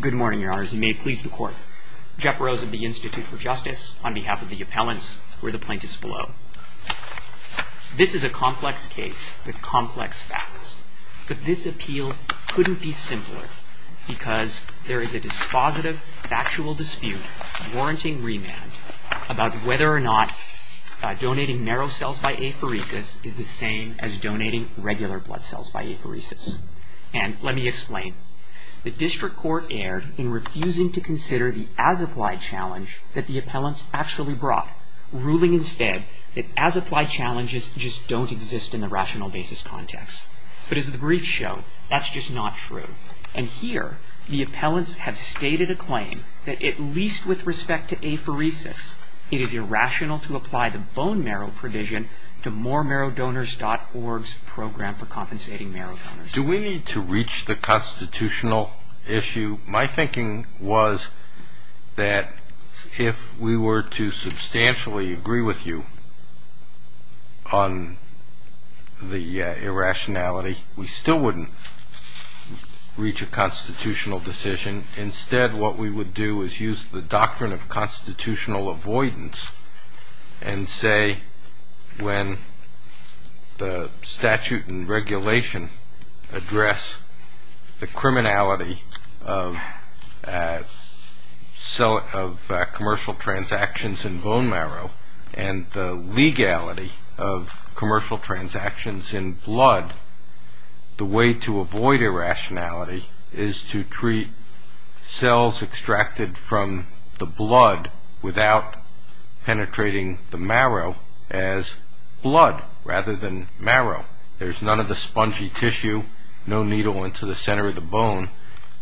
Good morning, your honors. You may please the court. Jeff Rose of the Institute for Justice, on behalf of the appellants, for the plaintiffs below. This is a complex case with complex facts, but this appeal couldn't be simpler because there is a dispositive, factual dispute, warranting remand, about whether or not donating narrow cells by apheresis is the same as donating regular blood cells by apheresis. And let me explain. The district court erred in refusing to consider the as-applied challenge that the appellants actually brought, ruling instead that as-applied challenges just don't exist in the rational basis context. But as the briefs show, that's just not true. And here, the appellants have stated a claim that at least with respect to apheresis, it is irrational to apply the bone marrow provision to moremarrowdonors.org's program for compensating marrow donors. Do we need to reach the constitutional issue? My thinking was that if we were to substantially agree with you on the irrationality, we still wouldn't reach a constitutional decision. Instead, what we would do is use the doctrine of constitutional avoidance and say when the statute and regulation address the criminality of commercial transactions in bone marrow and the legality of commercial transactions in blood, the way to avoid irrationality is to treat cells extracted from the blood without penetrating the marrow as blood rather than marrow. There's none of the spongy tissue, no needle into the center of the bone,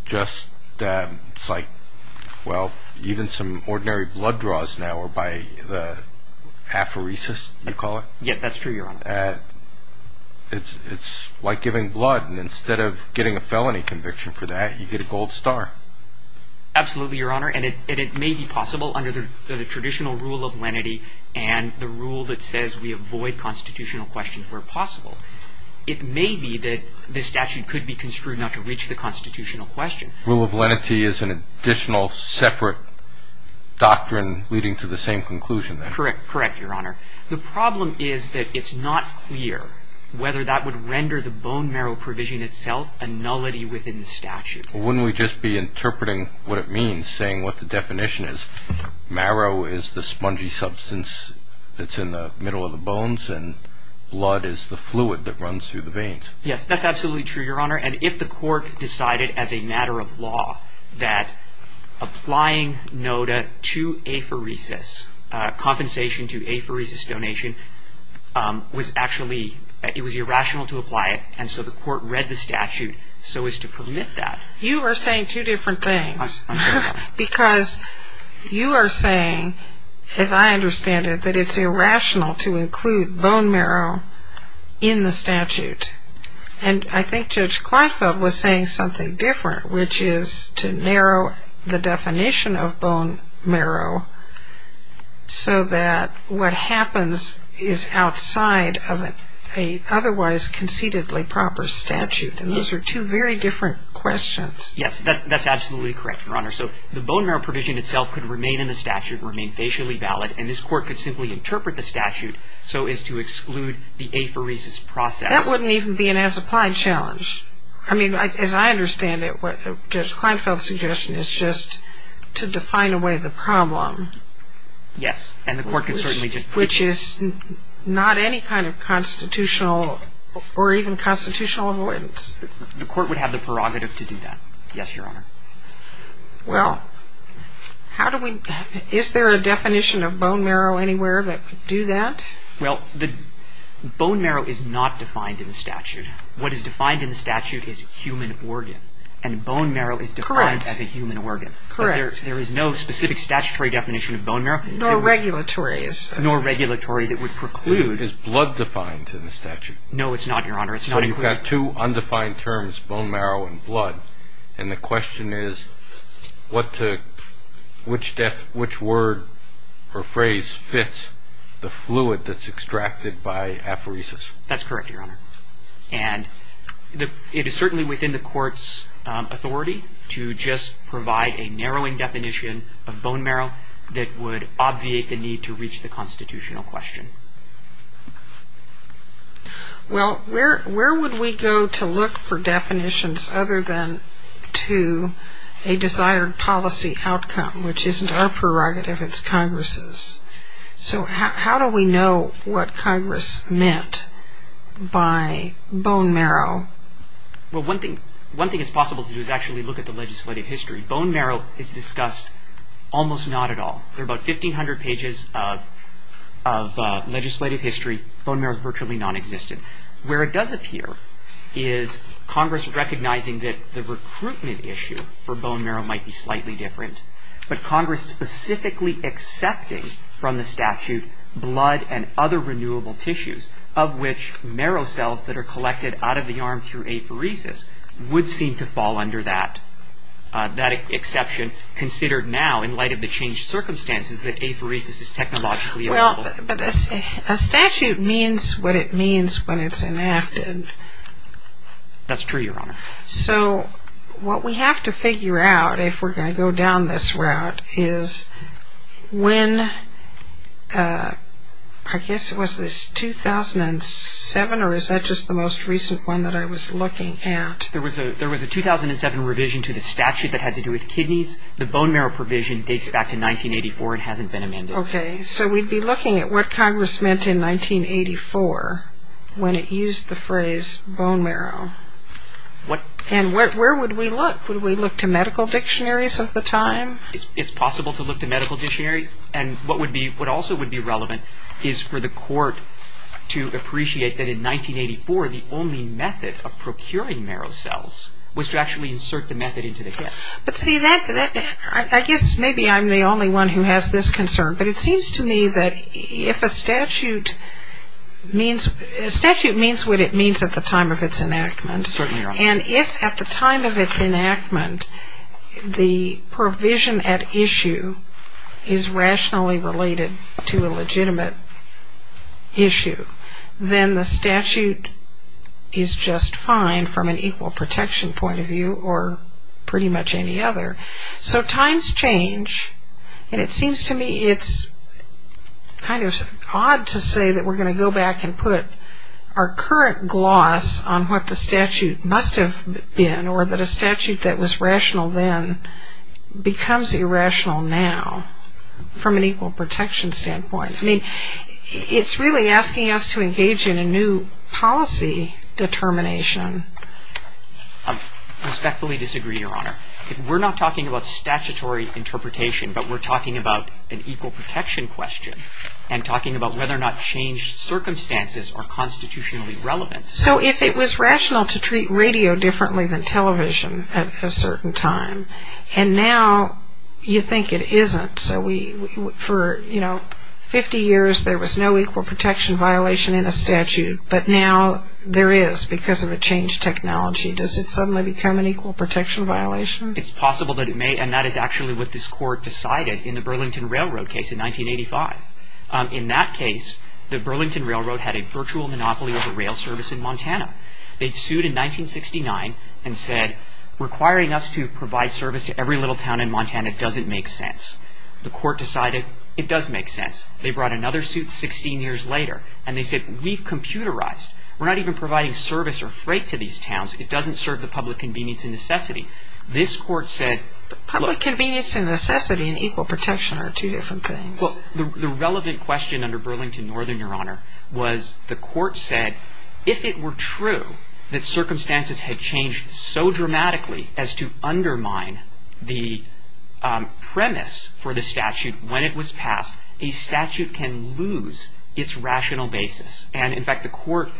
just it's like, well, even some ordinary blood draws now are by the apheresis, you call it? Yes, that's true, Your Honor. It's like giving blood, and instead of getting a felony conviction for that, you get a gold star. Absolutely, Your Honor, and it may be possible under the traditional rule of lenity and the rule that says we avoid constitutional questions where possible. It may be that the statute could be construed not to reach the constitutional question. Rule of lenity is an additional separate doctrine leading to the same conclusion, then? Correct, Your Honor. The problem is that it's not clear whether that would render the bone marrow provision itself a nullity within the statute. Wouldn't we just be interpreting what it means, saying what the definition is? Marrow is the spongy substance that's in the middle of the bones, and blood is the fluid that runs through the veins. Yes, that's absolutely true, Your Honor, and if the court decided as a matter of law that applying NODA to apheresis, compensation to apheresis donation, was actually, it was irrational to apply it, and so the court read the statute so as to permit that. You are saying two different things. I'm sorry? Because you are saying, as I understand it, that it's irrational to include bone marrow in the statute, and I think Judge Kleinfeld was saying something different, which is to narrow the definition of bone marrow so that what happens is outside of an otherwise conceitedly proper statute, and those are two very different questions. Yes, that's absolutely correct, Your Honor. So the bone marrow provision itself could remain in the statute, remain facially valid, and this court could simply interpret the statute so as to exclude the apheresis process. That wouldn't even be an as-applied challenge. I mean, as I understand it, Judge Kleinfeld's suggestion is just to define away the problem. Yes, and the court could certainly just... Which is not any kind of constitutional or even constitutional avoidance. The court would have the prerogative to do that, yes, Your Honor. Well, how do we, is there a definition of bone marrow anywhere that could do that? Well, bone marrow is not defined in the statute. What is defined in the statute is human organ, and bone marrow is defined as a human organ. Correct. There is no specific statutory definition of bone marrow. Nor regulatory. Nor regulatory that would preclude... Is blood defined in the statute? No, it's not, Your Honor. So you've got two undefined terms, bone marrow and blood, and the question is, which word or phrase fits the fluid that's extracted by apheresis? That's correct, Your Honor. And it is certainly within the court's authority to just provide a narrowing definition of bone marrow that would obviate the need to reach the constitutional question. Well, where would we go to look for definitions other than to a desired policy outcome, which isn't our prerogative, it's Congress's? So how do we know what Congress meant by bone marrow? Well, one thing it's possible to do is actually look at the legislative history. Bone marrow is discussed almost not at all. There are about 1,500 pages of legislative history. Bone marrow is virtually nonexistent. Where it does appear is Congress recognizing that the recruitment issue for bone marrow might be slightly different, but Congress specifically accepting from the statute blood and other renewable tissues, of which marrow cells that are collected out of the arm through apheresis would seem to fall under that. That exception considered now in light of the changed circumstances that apheresis is technologically available. Well, a statute means what it means when it's enacted. That's true, Your Honor. So what we have to figure out if we're going to go down this route is when, I guess it was this 2007, or is that just the most recent one that I was looking at? There was a 2007 revision to the statute that had to do with kidneys. The bone marrow provision dates back to 1984 and hasn't been amended. Okay. So we'd be looking at what Congress meant in 1984 when it used the phrase bone marrow. And where would we look? Would we look to medical dictionaries of the time? It's possible to look to medical dictionaries. And what also would be relevant is for the court to appreciate that in 1984, the only method of procuring marrow cells was to actually insert the method into the kidney. But, see, I guess maybe I'm the only one who has this concern, but it seems to me that if a statute means what it means at the time of its enactment. Certainly, Your Honor. And if at the time of its enactment, the provision at issue is rationally related to a legitimate issue, then the statute is just fine from an equal protection point of view or pretty much any other. So times change, and it seems to me it's kind of odd to say that we're going to go back and put our current gloss on what the statute must have been or that a statute that was rational then becomes irrational now from an equal protection standpoint. I mean, it's really asking us to engage in a new policy determination. I respectfully disagree, Your Honor. We're not talking about statutory interpretation, but we're talking about an equal protection question and talking about whether or not changed circumstances are constitutionally relevant. So if it was rational to treat radio differently than television at a certain time, and now you think it isn't, so for 50 years there was no equal protection violation in a statute, but now there is because of a changed technology, does it suddenly become an equal protection violation? It's possible that it may, and that is actually what this Court decided in the Burlington Railroad case in 1985. In that case, the Burlington Railroad had a virtual monopoly over rail service in Montana. They sued in 1969 and said requiring us to provide service to every little town in Montana doesn't make sense. The Court decided it does make sense. They brought another suit 16 years later, and they said we've computerized. We're not even providing service or freight to these towns. It doesn't serve the public convenience and necessity. This Court said... But public convenience and necessity and equal protection are two different things. Well, the relevant question under Burlington Northern, Your Honor, was the Court said if it were true that circumstances had changed so dramatically as to undermine the premise for the statute when it was passed, a statute can lose its rational basis. And, in fact, the Court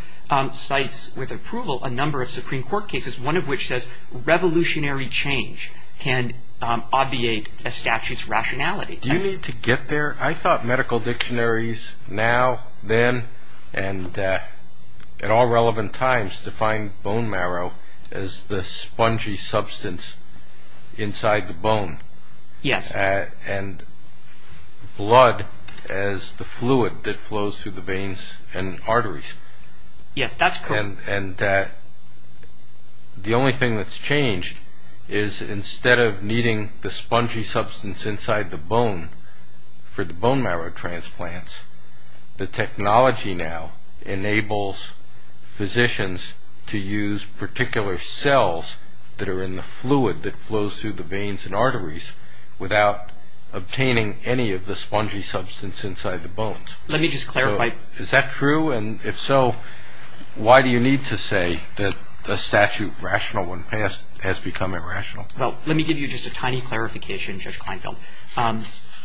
cites with approval a number of Supreme Court cases, one of which says revolutionary change can obviate a statute's rationality. Do you mean to get there? I thought medical dictionaries now, then, and at all relevant times defined bone marrow as the spongy substance inside the bone. Yes. And blood as the fluid that flows through the veins and arteries. Yes, that's correct. And the only thing that's changed is instead of needing the spongy substance inside the bone for the bone marrow transplants, the technology now enables physicians to use particular cells that are in the fluid that flows through the veins and arteries without obtaining any of the spongy substance inside the bones. Let me just clarify. So is that true? And, if so, why do you need to say that the statute rational when passed has become irrational? Well, let me give you just a tiny clarification, Judge Kleinfeld.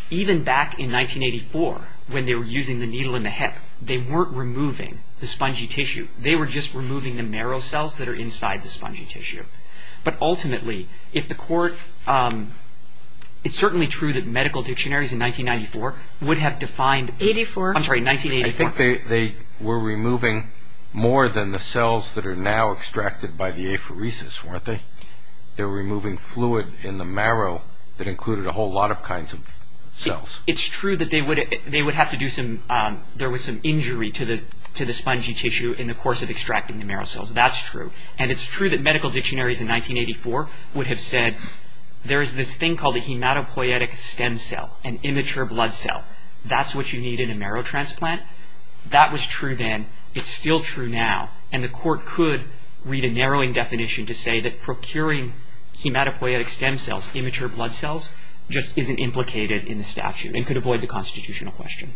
Even back in 1984, when they were using the needle in the hip, they weren't removing the spongy tissue. They were just removing the marrow cells that are inside the spongy tissue. But, ultimately, if the Court – it's certainly true that medical dictionaries in 1994 would have defined – I think they were removing more than the cells that are now extracted by the apheresis, weren't they? They were removing fluid in the marrow that included a whole lot of kinds of cells. It's true that they would have to do some – there was some injury to the spongy tissue in the course of extracting the marrow cells. That's true. And it's true that medical dictionaries in 1984 would have said, there is this thing called a hematopoietic stem cell, an immature blood cell. That's what you need in a marrow transplant. That was true then. It's still true now. And the Court could read a narrowing definition to say that procuring hematopoietic stem cells, immature blood cells, just isn't implicated in the statute and could avoid the constitutional question.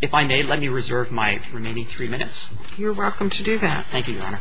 If I may, let me reserve my remaining three minutes. You're welcome to do that. Thank you, Your Honor.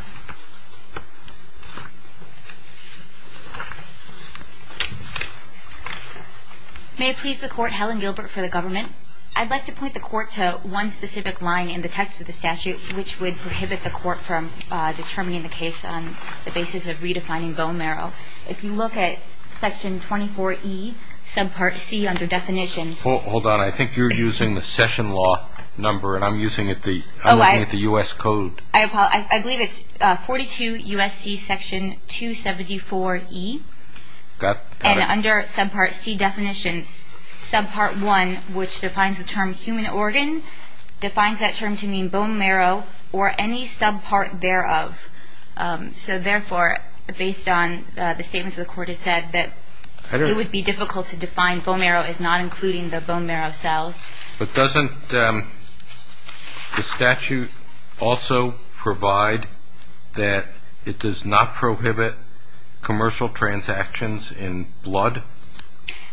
May it please the Court, Helen Gilbert for the Government. I'd like to point the Court to one specific line in the text of the statute which would prohibit the Court from determining the case on the basis of redefining bone marrow. If you look at Section 24E, Subpart C under Definitions. Hold on. I think you're using the Session Law number, and I'm looking at the U.S. Code. I believe it's Section 24E. 42 U.S.C. Section 274E. Got it. And under Subpart C, Definitions, Subpart 1, which defines the term human organ, defines that term to mean bone marrow or any subpart thereof. So therefore, based on the statements of the Court, it said that it would be difficult to define bone marrow as not including the bone marrow cells. But doesn't the statute also provide that it does not prohibit commercial transactions in blood?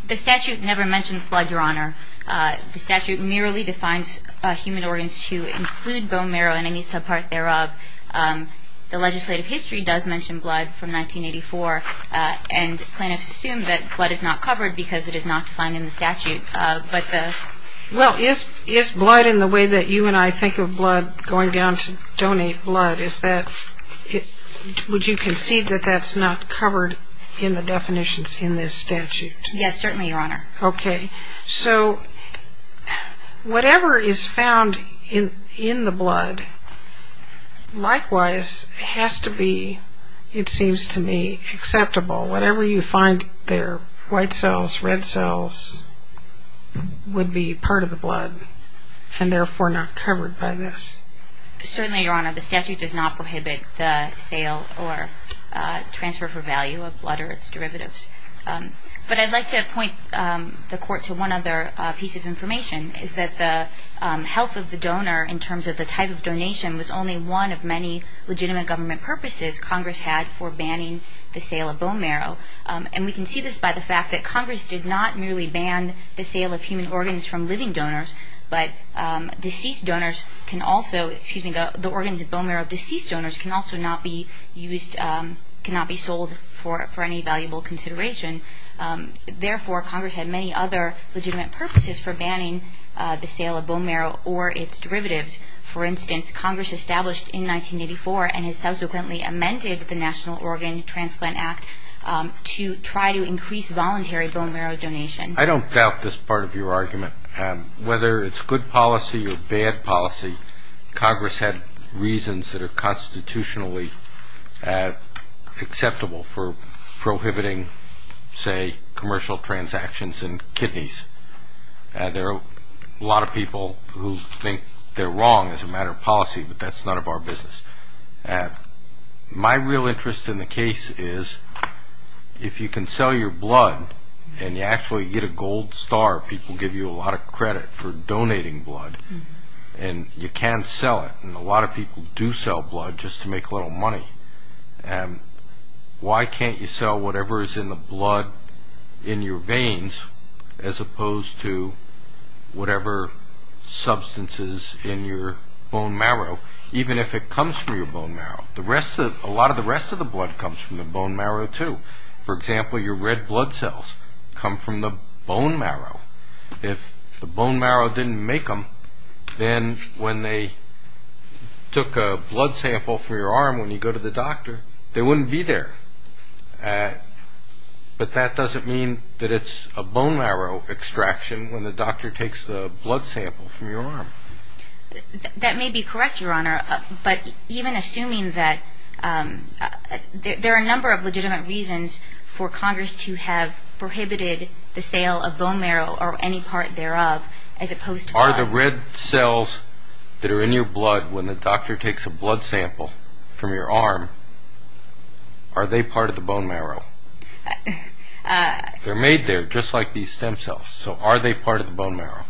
The statute never mentions blood, Your Honor. The statute merely defines human organs to include bone marrow and any subpart thereof. The legislative history does mention blood from 1984, and plaintiffs assume that blood is not covered because it is not defined in the statute. Well, is blood in the way that you and I think of blood going down to donate blood? Would you concede that that's not covered in the definitions in this statute? Yes, certainly, Your Honor. Okay. So whatever is found in the blood, likewise, has to be, it seems to me, acceptable. Whatever you find there, white cells, red cells, would be part of the blood and therefore not covered by this. Certainly, Your Honor. The statute does not prohibit the sale or transfer for value of blood or its derivatives. But I'd like to point the Court to one other piece of information, is that the health of the donor in terms of the type of donation was only one of many legitimate government purposes Congress had for banning the sale of bone marrow. And we can see this by the fact that Congress did not merely ban the sale of human organs from living donors, but deceased donors can also, excuse me, the organs of bone marrow of deceased donors can also not be used, cannot be sold for any valuable consideration. Therefore, Congress had many other legitimate purposes for banning the sale of bone marrow or its derivatives. For instance, Congress established in 1984 and has subsequently amended the National Organ Transplant Act to try to increase voluntary bone marrow donation. I don't doubt this part of your argument. Whether it's good policy or bad policy, Congress had reasons that are constitutionally acceptable for prohibiting, say, commercial transactions in kidneys. There are a lot of people who think they're wrong as a matter of policy, but that's none of our business. My real interest in the case is if you can sell your blood and you actually get a gold star, people give you a lot of credit for donating blood and you can sell it. And a lot of people do sell blood just to make a little money. Why can't you sell whatever is in the blood in your veins as opposed to whatever substances in your bone marrow, even if it comes from your bone marrow? A lot of the rest of the blood comes from the bone marrow too. For example, your red blood cells come from the bone marrow. If the bone marrow didn't make them, then when they took a blood sample from your arm when you go to the doctor, they wouldn't be there. But that doesn't mean that it's a bone marrow extraction when the doctor takes the blood sample from your arm. That may be correct, Your Honor, but even assuming that there are a number of legitimate reasons for Congress to have prohibited the sale of bone marrow or any part thereof as opposed to blood. Are the red cells that are in your blood when the doctor takes a blood sample from your arm, are they part of the bone marrow? They're made there just like these stem cells. So are they part of the bone marrow?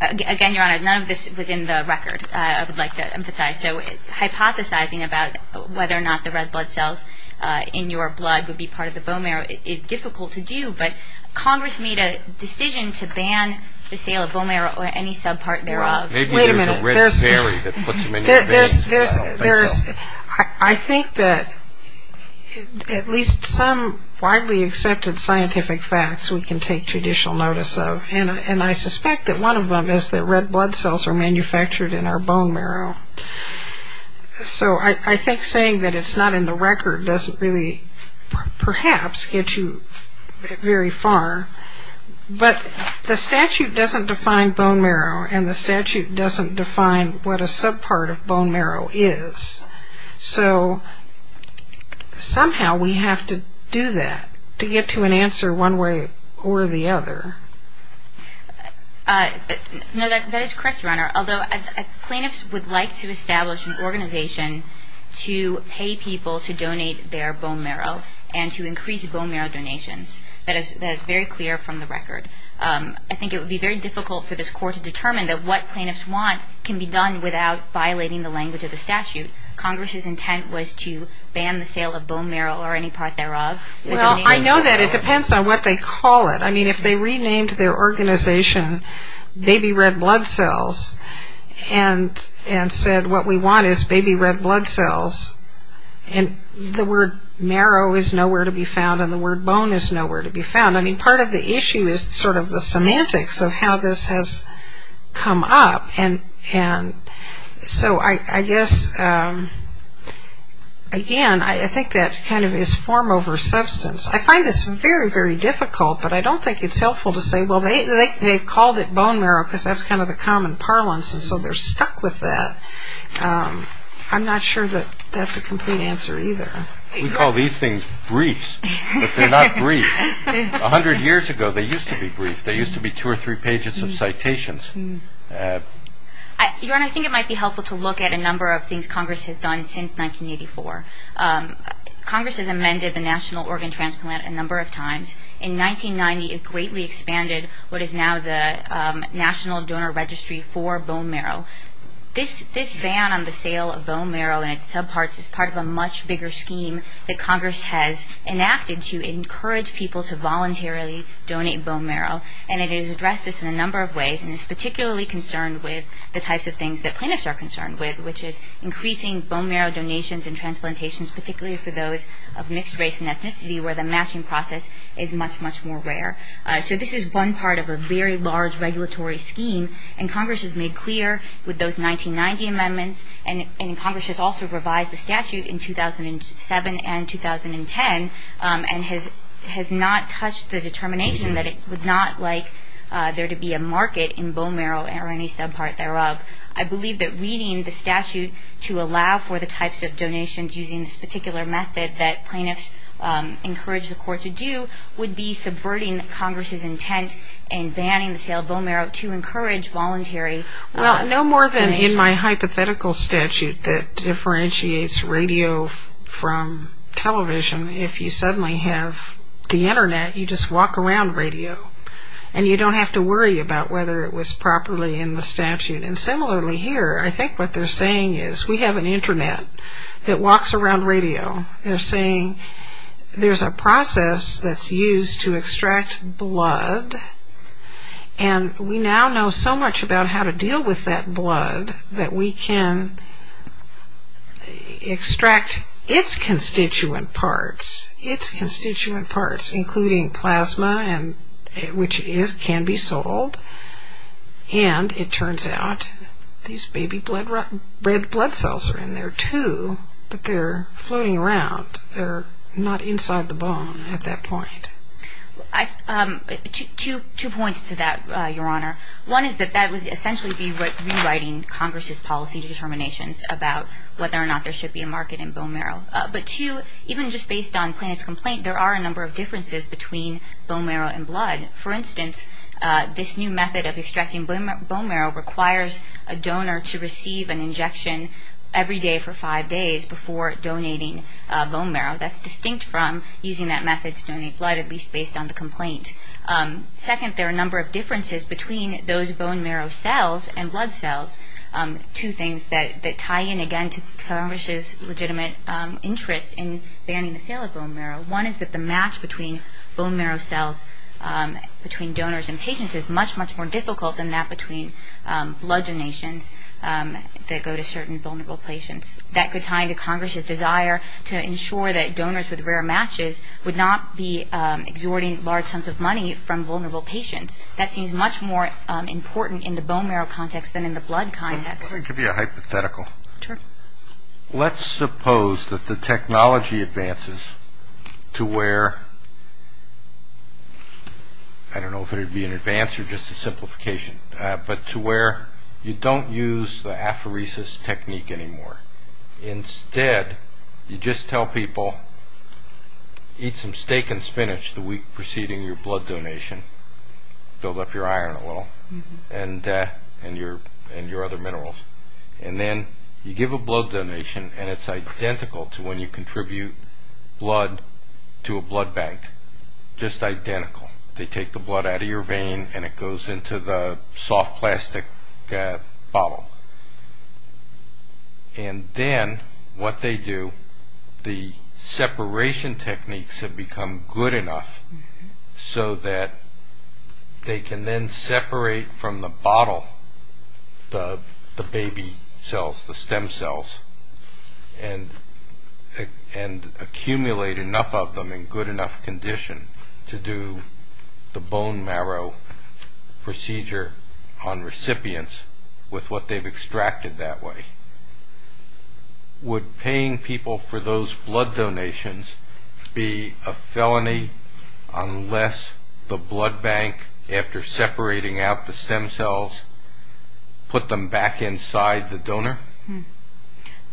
Again, Your Honor, none of this was in the record, I would like to emphasize. So hypothesizing about whether or not the red blood cells in your blood would be part of the bone marrow is difficult to do, but Congress made a decision to ban the sale of bone marrow or any subpart thereof. Wait a minute. Maybe there's a red berry that puts them in your veins. I don't think so. I think that at least some widely accepted scientific facts we can take judicial notice of, and I suspect that one of them is that red blood cells are manufactured in our bone marrow. So I think saying that it's not in the record doesn't really perhaps get you very far, but the statute doesn't define bone marrow and the statute doesn't define what a subpart of bone marrow is. So somehow we have to do that to get to an answer one way or the other. No, that is correct, Your Honor, although plaintiffs would like to establish an organization to pay people to donate their bone marrow and to increase bone marrow donations. That is very clear from the record. I think it would be very difficult for this Court to determine that what plaintiffs want can be done without violating the language of the statute. Congress's intent was to ban the sale of bone marrow or any part thereof. Well, I know that. It depends on what they call it. I mean, if they renamed their organization Baby Red Blood Cells and said what we want is baby red blood cells, and the word marrow is nowhere to be found and the word bone is nowhere to be found, I mean, part of the issue is sort of the semantics of how this has come up, and so I guess, again, I think that kind of is form over substance. I find this very, very difficult, but I don't think it's helpful to say, well, they called it bone marrow because that's kind of the common parlance, and so they're stuck with that. I'm not sure that that's a complete answer either. We call these things briefs, but they're not brief. A hundred years ago they used to be brief. They used to be two or three pages of citations. I think it might be helpful to look at a number of things Congress has done since 1984. Congress has amended the National Organ Transplant a number of times. In 1990 it greatly expanded what is now the National Donor Registry for bone marrow. This ban on the sale of bone marrow and its subparts is part of a much bigger scheme that Congress has enacted to encourage people to voluntarily donate bone marrow, and it has addressed this in a number of ways, and it's particularly concerned with the types of things that clinics are concerned with, which is increasing bone marrow donations and transplantations, particularly for those of mixed race and ethnicity where the matching process is much, much more rare. So this is one part of a very large regulatory scheme, and Congress has made clear with those 1990 amendments, and Congress has also revised the statute in 2007 and 2010 and has not touched the determination that it would not like there to be a market in bone marrow or any subpart thereof. I believe that reading the statute to allow for the types of donations using this particular method that plaintiffs encourage the court to do would be subverting Congress's intent in banning the sale of bone marrow to encourage voluntary donations. Well, no more than in my hypothetical statute that differentiates radio from television. If you suddenly have the Internet, you just walk around radio, and you don't have to worry about whether it was properly in the statute. And similarly here, I think what they're saying is we have an Internet that walks around radio. They're saying there's a process that's used to extract blood, and we now know so much about how to deal with that blood that we can extract its constituent parts, its constituent parts, including plasma, which can be sold. And it turns out these baby red blood cells are in there too, but they're floating around. They're not inside the bone at that point. Two points to that, Your Honor. One is that that would essentially be rewriting Congress's policy determinations about whether or not there should be a market in bone marrow. But two, even just based on Plaintiff's complaint, there are a number of differences between bone marrow and blood. For instance, this new method of extracting bone marrow requires a donor to receive an injection every day for five days before donating bone marrow. That's distinct from using that method to donate blood, at least based on the complaint. Second, there are a number of differences between those bone marrow cells and blood cells, two things that tie in again to Congress's legitimate interest in banning the sale of bone marrow. One is that the match between bone marrow cells between donors and patients is much, much more difficult than that between blood donations that go to certain vulnerable patients. That could tie into Congress's desire to ensure that donors with rare matches would not be exhorting large sums of money from vulnerable patients. That seems much more important in the bone marrow context than in the blood context. Let me give you a hypothetical. Sure. Let's suppose that the technology advances to where, I don't know if it would be an advance or just a simplification, but to where you don't use the aphoresis technique anymore. Instead, you just tell people, eat some steak and spinach the week preceding your blood donation, build up your iron a little, and your other minerals. And then you give a blood donation, and it's identical to when you contribute blood to a blood bank, just identical. They take the blood out of your vein, and it goes into the soft plastic bottle. And then what they do, the separation techniques have become good enough so that they can then separate from the bottle the baby cells, the stem cells, and accumulate enough of them in good enough condition to do the bone marrow procedure on recipients with what they've extracted that way. Would paying people for those blood donations be a felony unless the blood bank, after separating out the stem cells, put them back inside the donor?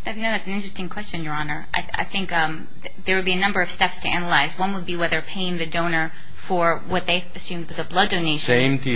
That's an interesting question, Your Honor. I think there would be a number of steps to analyze. One would be whether paying the donor for what they assumed was a blood donation would sense being ---- Same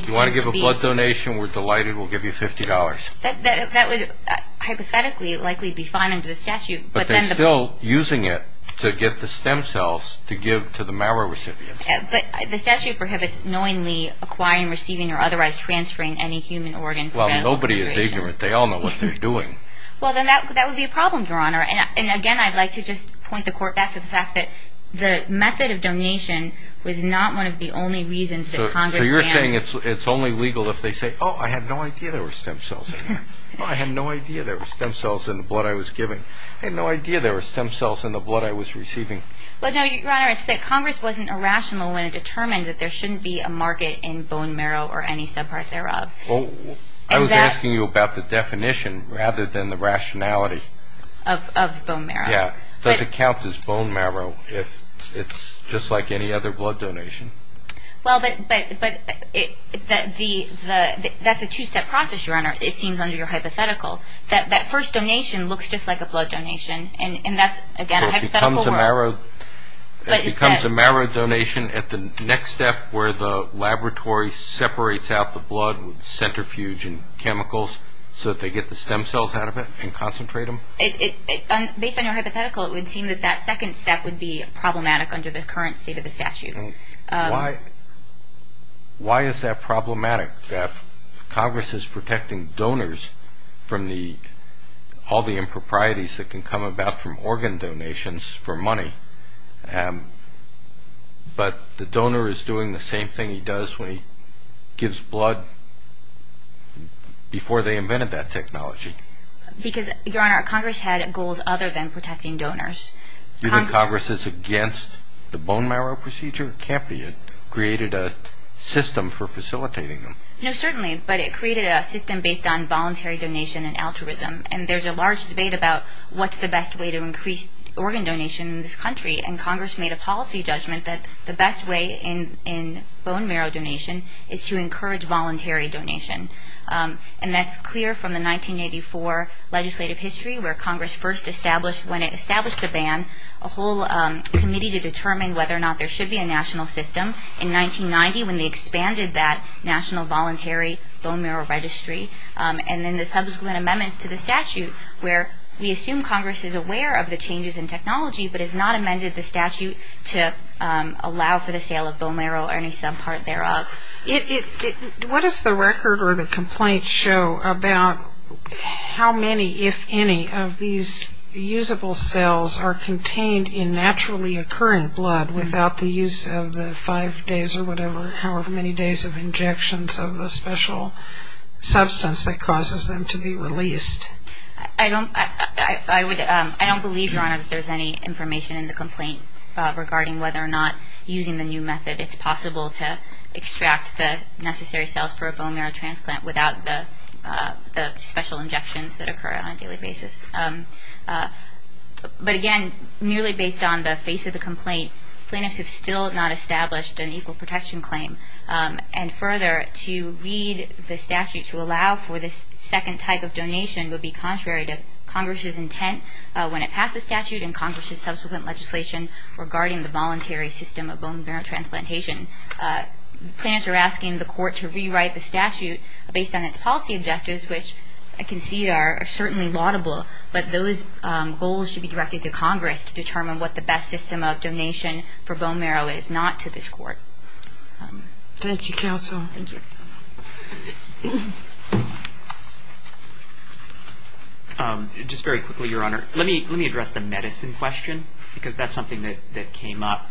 deal. You want to give a blood donation, we're delighted, we'll give you $50. That would hypothetically likely be fine under the statute, but then the ---- But they're still using it to get the stem cells to give to the marrow recipients. But the statute prohibits knowingly acquiring, receiving, or otherwise transferring any human organ ---- Well, nobody is ignorant. They all know what they're doing. Well, then that would be a problem, Your Honor. And again, I'd like to just point the court back to the fact that the method of donation was not one of the only reasons that Congress ---- So you're saying it's only legal if they say, oh, I had no idea there were stem cells in there. I had no idea there were stem cells in the blood I was giving. I had no idea there were stem cells in the blood I was receiving. Well, no, Your Honor, it's that Congress wasn't irrational when it determined that there shouldn't be a market in bone marrow or any subpart thereof. I was asking you about the definition rather than the rationality. Of bone marrow. Yeah. Does it count as bone marrow if it's just like any other blood donation? Well, but that's a two-step process, Your Honor, it seems, under your hypothetical. That first donation looks just like a blood donation, and that's, again, a hypothetical ---- It becomes a marrow donation at the next step where the laboratory separates out the blood with centrifuge and chemicals so that they get the stem cells out of it and concentrate them. Based on your hypothetical, it would seem that that second step would be problematic under the current state of the statute. Why is that problematic, that Congress is protecting donors from all the improprieties that can come about from organ donations for money, but the donor is doing the same thing he does when he gives blood before they invented that technology? Because, Your Honor, Congress had goals other than protecting donors. Do you think Congress is against the bone marrow procedure? It can't be. It created a system for facilitating them. No, certainly, but it created a system based on voluntary donation and altruism, and there's a large debate about what's the best way to increase organ donation in this country, and Congress made a policy judgment that the best way in bone marrow donation is to encourage voluntary donation, and that's clear from the 1984 legislative history where Congress first established, when it established the ban, a whole committee to determine whether or not there should be a national system in 1990 when they expanded that national voluntary bone marrow registry, and then the subsequent amendments to the statute, where we assume Congress is aware of the changes in technology, but has not amended the statute to allow for the sale of bone marrow or any subpart thereof. What does the record or the complaint show about how many, if any, of these usable cells are contained in naturally occurring blood without the use of the five days or whatever, however many days of injections of the special substance that causes them to be released? I don't believe, Your Honor, that there's any information in the complaint regarding whether or not using the new method it's possible to extract the necessary cells for a bone marrow transplant without the special injections that occur on a daily basis, but again, merely based on the face of the complaint, plaintiffs have still not established an equal protection claim. And further, to read the statute to allow for this second type of donation would be contrary to Congress's intent when it passed the statute and Congress's subsequent legislation regarding the voluntary system of bone marrow transplantation. Plaintiffs are asking the court to rewrite the statute based on its policy objectives, which I can see are certainly laudable, but those goals should be directed to Congress to determine what the best system of donation for bone marrow is not to this court. Thank you, Counsel. Thank you. Just very quickly, Your Honor, let me address the medicine question because that's something that came up.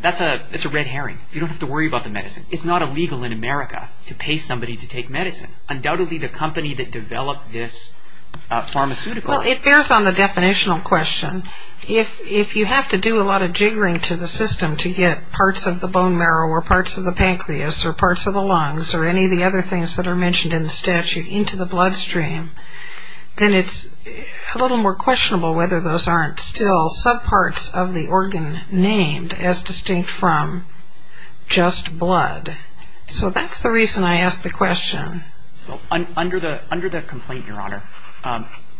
That's a red herring. You don't have to worry about the medicine. It's not illegal in America to pay somebody to take medicine. It's undoubtedly the company that developed this pharmaceutical. Well, it bears on the definitional question. If you have to do a lot of jiggering to the system to get parts of the bone marrow or parts of the pancreas or parts of the lungs or any of the other things that are mentioned in the statute into the bloodstream, then it's a little more questionable whether those aren't still subparts of the organ named as distinct from just blood. So that's the reason I asked the question. Under the complaint, Your Honor,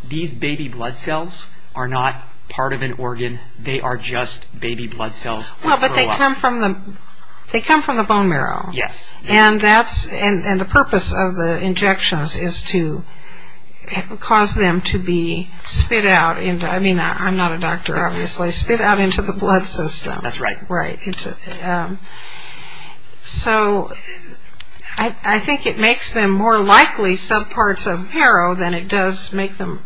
these baby blood cells are not part of an organ. They are just baby blood cells. Well, but they come from the bone marrow. Yes. And the purpose of the injections is to cause them to be spit out. I mean, I'm not a doctor, obviously. Spit out into the blood system. That's right. Right. So I think it makes them more likely subparts of marrow than it does make them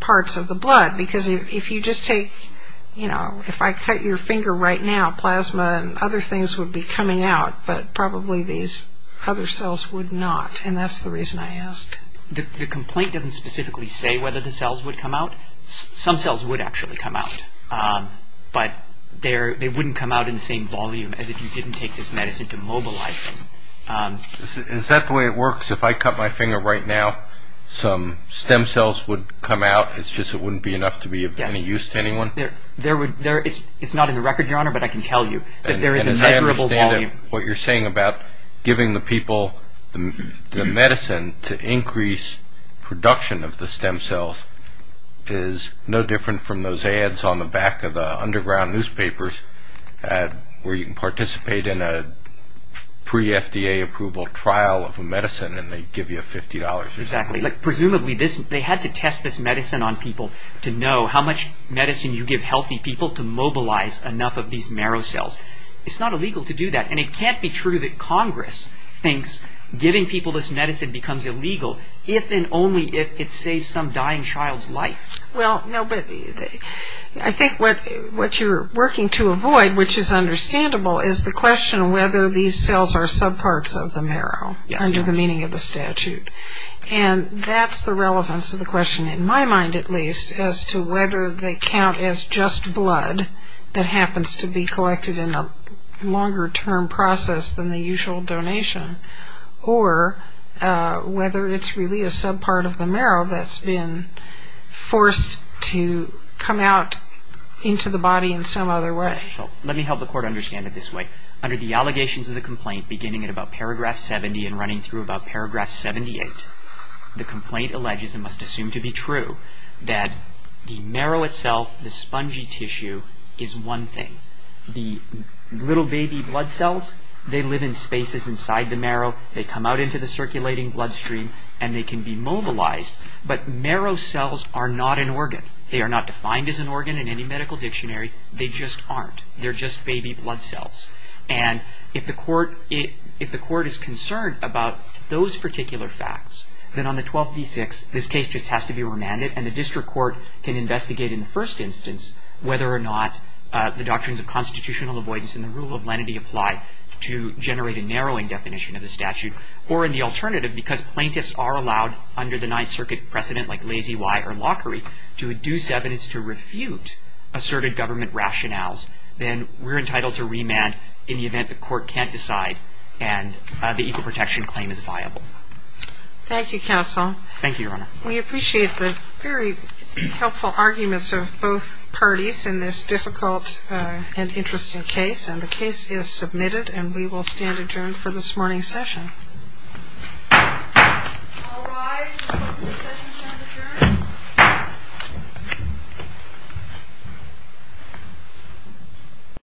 parts of the blood because if you just take, you know, if I cut your finger right now, plasma and other things would be coming out, but probably these other cells would not, and that's the reason I asked. The complaint doesn't specifically say whether the cells would come out. Some cells would actually come out, but they wouldn't come out in the same volume as if you didn't take this medicine to mobilize them. Is that the way it works? If I cut my finger right now, some stem cells would come out. It's just it wouldn't be enough to be of any use to anyone? Yes. It's not in the record, Your Honor, but I can tell you that there is a measurable volume. And as I understand it, what you're saying about giving the people the medicine to increase production of the stem cells is no different from those ads on the back of the underground newspapers where you can participate in a pre-FDA approval trial of a medicine and they give you $50. Exactly. Presumably they had to test this medicine on people to know how much medicine you give healthy people to mobilize enough of these marrow cells. It's not illegal to do that, and it can't be true that Congress thinks giving people this medicine becomes illegal if and only if it saves some dying child's life. Well, no, but I think what you're working to avoid, which is understandable, is the question of whether these cells are subparts of the marrow under the meaning of the statute. And that's the relevance of the question, in my mind at least, as to whether they count as just blood that happens to be collected in a longer-term process than the usual donation, or whether it's really a subpart of the marrow that's been forced to come out into the body in some other way. Let me help the Court understand it this way. Under the allegations of the complaint, beginning at about paragraph 70 and running through about paragraph 78, the complaint alleges, and must assume to be true, that the marrow itself, the spongy tissue, is one thing. The little baby blood cells, they live in spaces inside the marrow, they come out into the circulating bloodstream, and they can be mobilized. But marrow cells are not an organ. They are not defined as an organ in any medical dictionary. They just aren't. They're just baby blood cells. And if the Court is concerned about those particular facts, then on the 12b-6, this case just has to be remanded, and the district court can investigate in the first instance whether or not the doctrines of constitutional avoidance and the rule of lenity apply to generate a narrowing definition of the statute. Or in the alternative, because plaintiffs are allowed, under the Ninth Circuit precedent like Lazy Y or Lockery, to deduce evidence to refute asserted government rationales, then we're entitled to remand in the event the Court can't decide and the equal protection claim is viable. Thank you, Counsel. Thank you, Your Honor. We appreciate the very helpful arguments of both parties in this difficult and interesting case. And the case is submitted, and we will stand adjourned for this morning's session. All rise. The session is adjourned.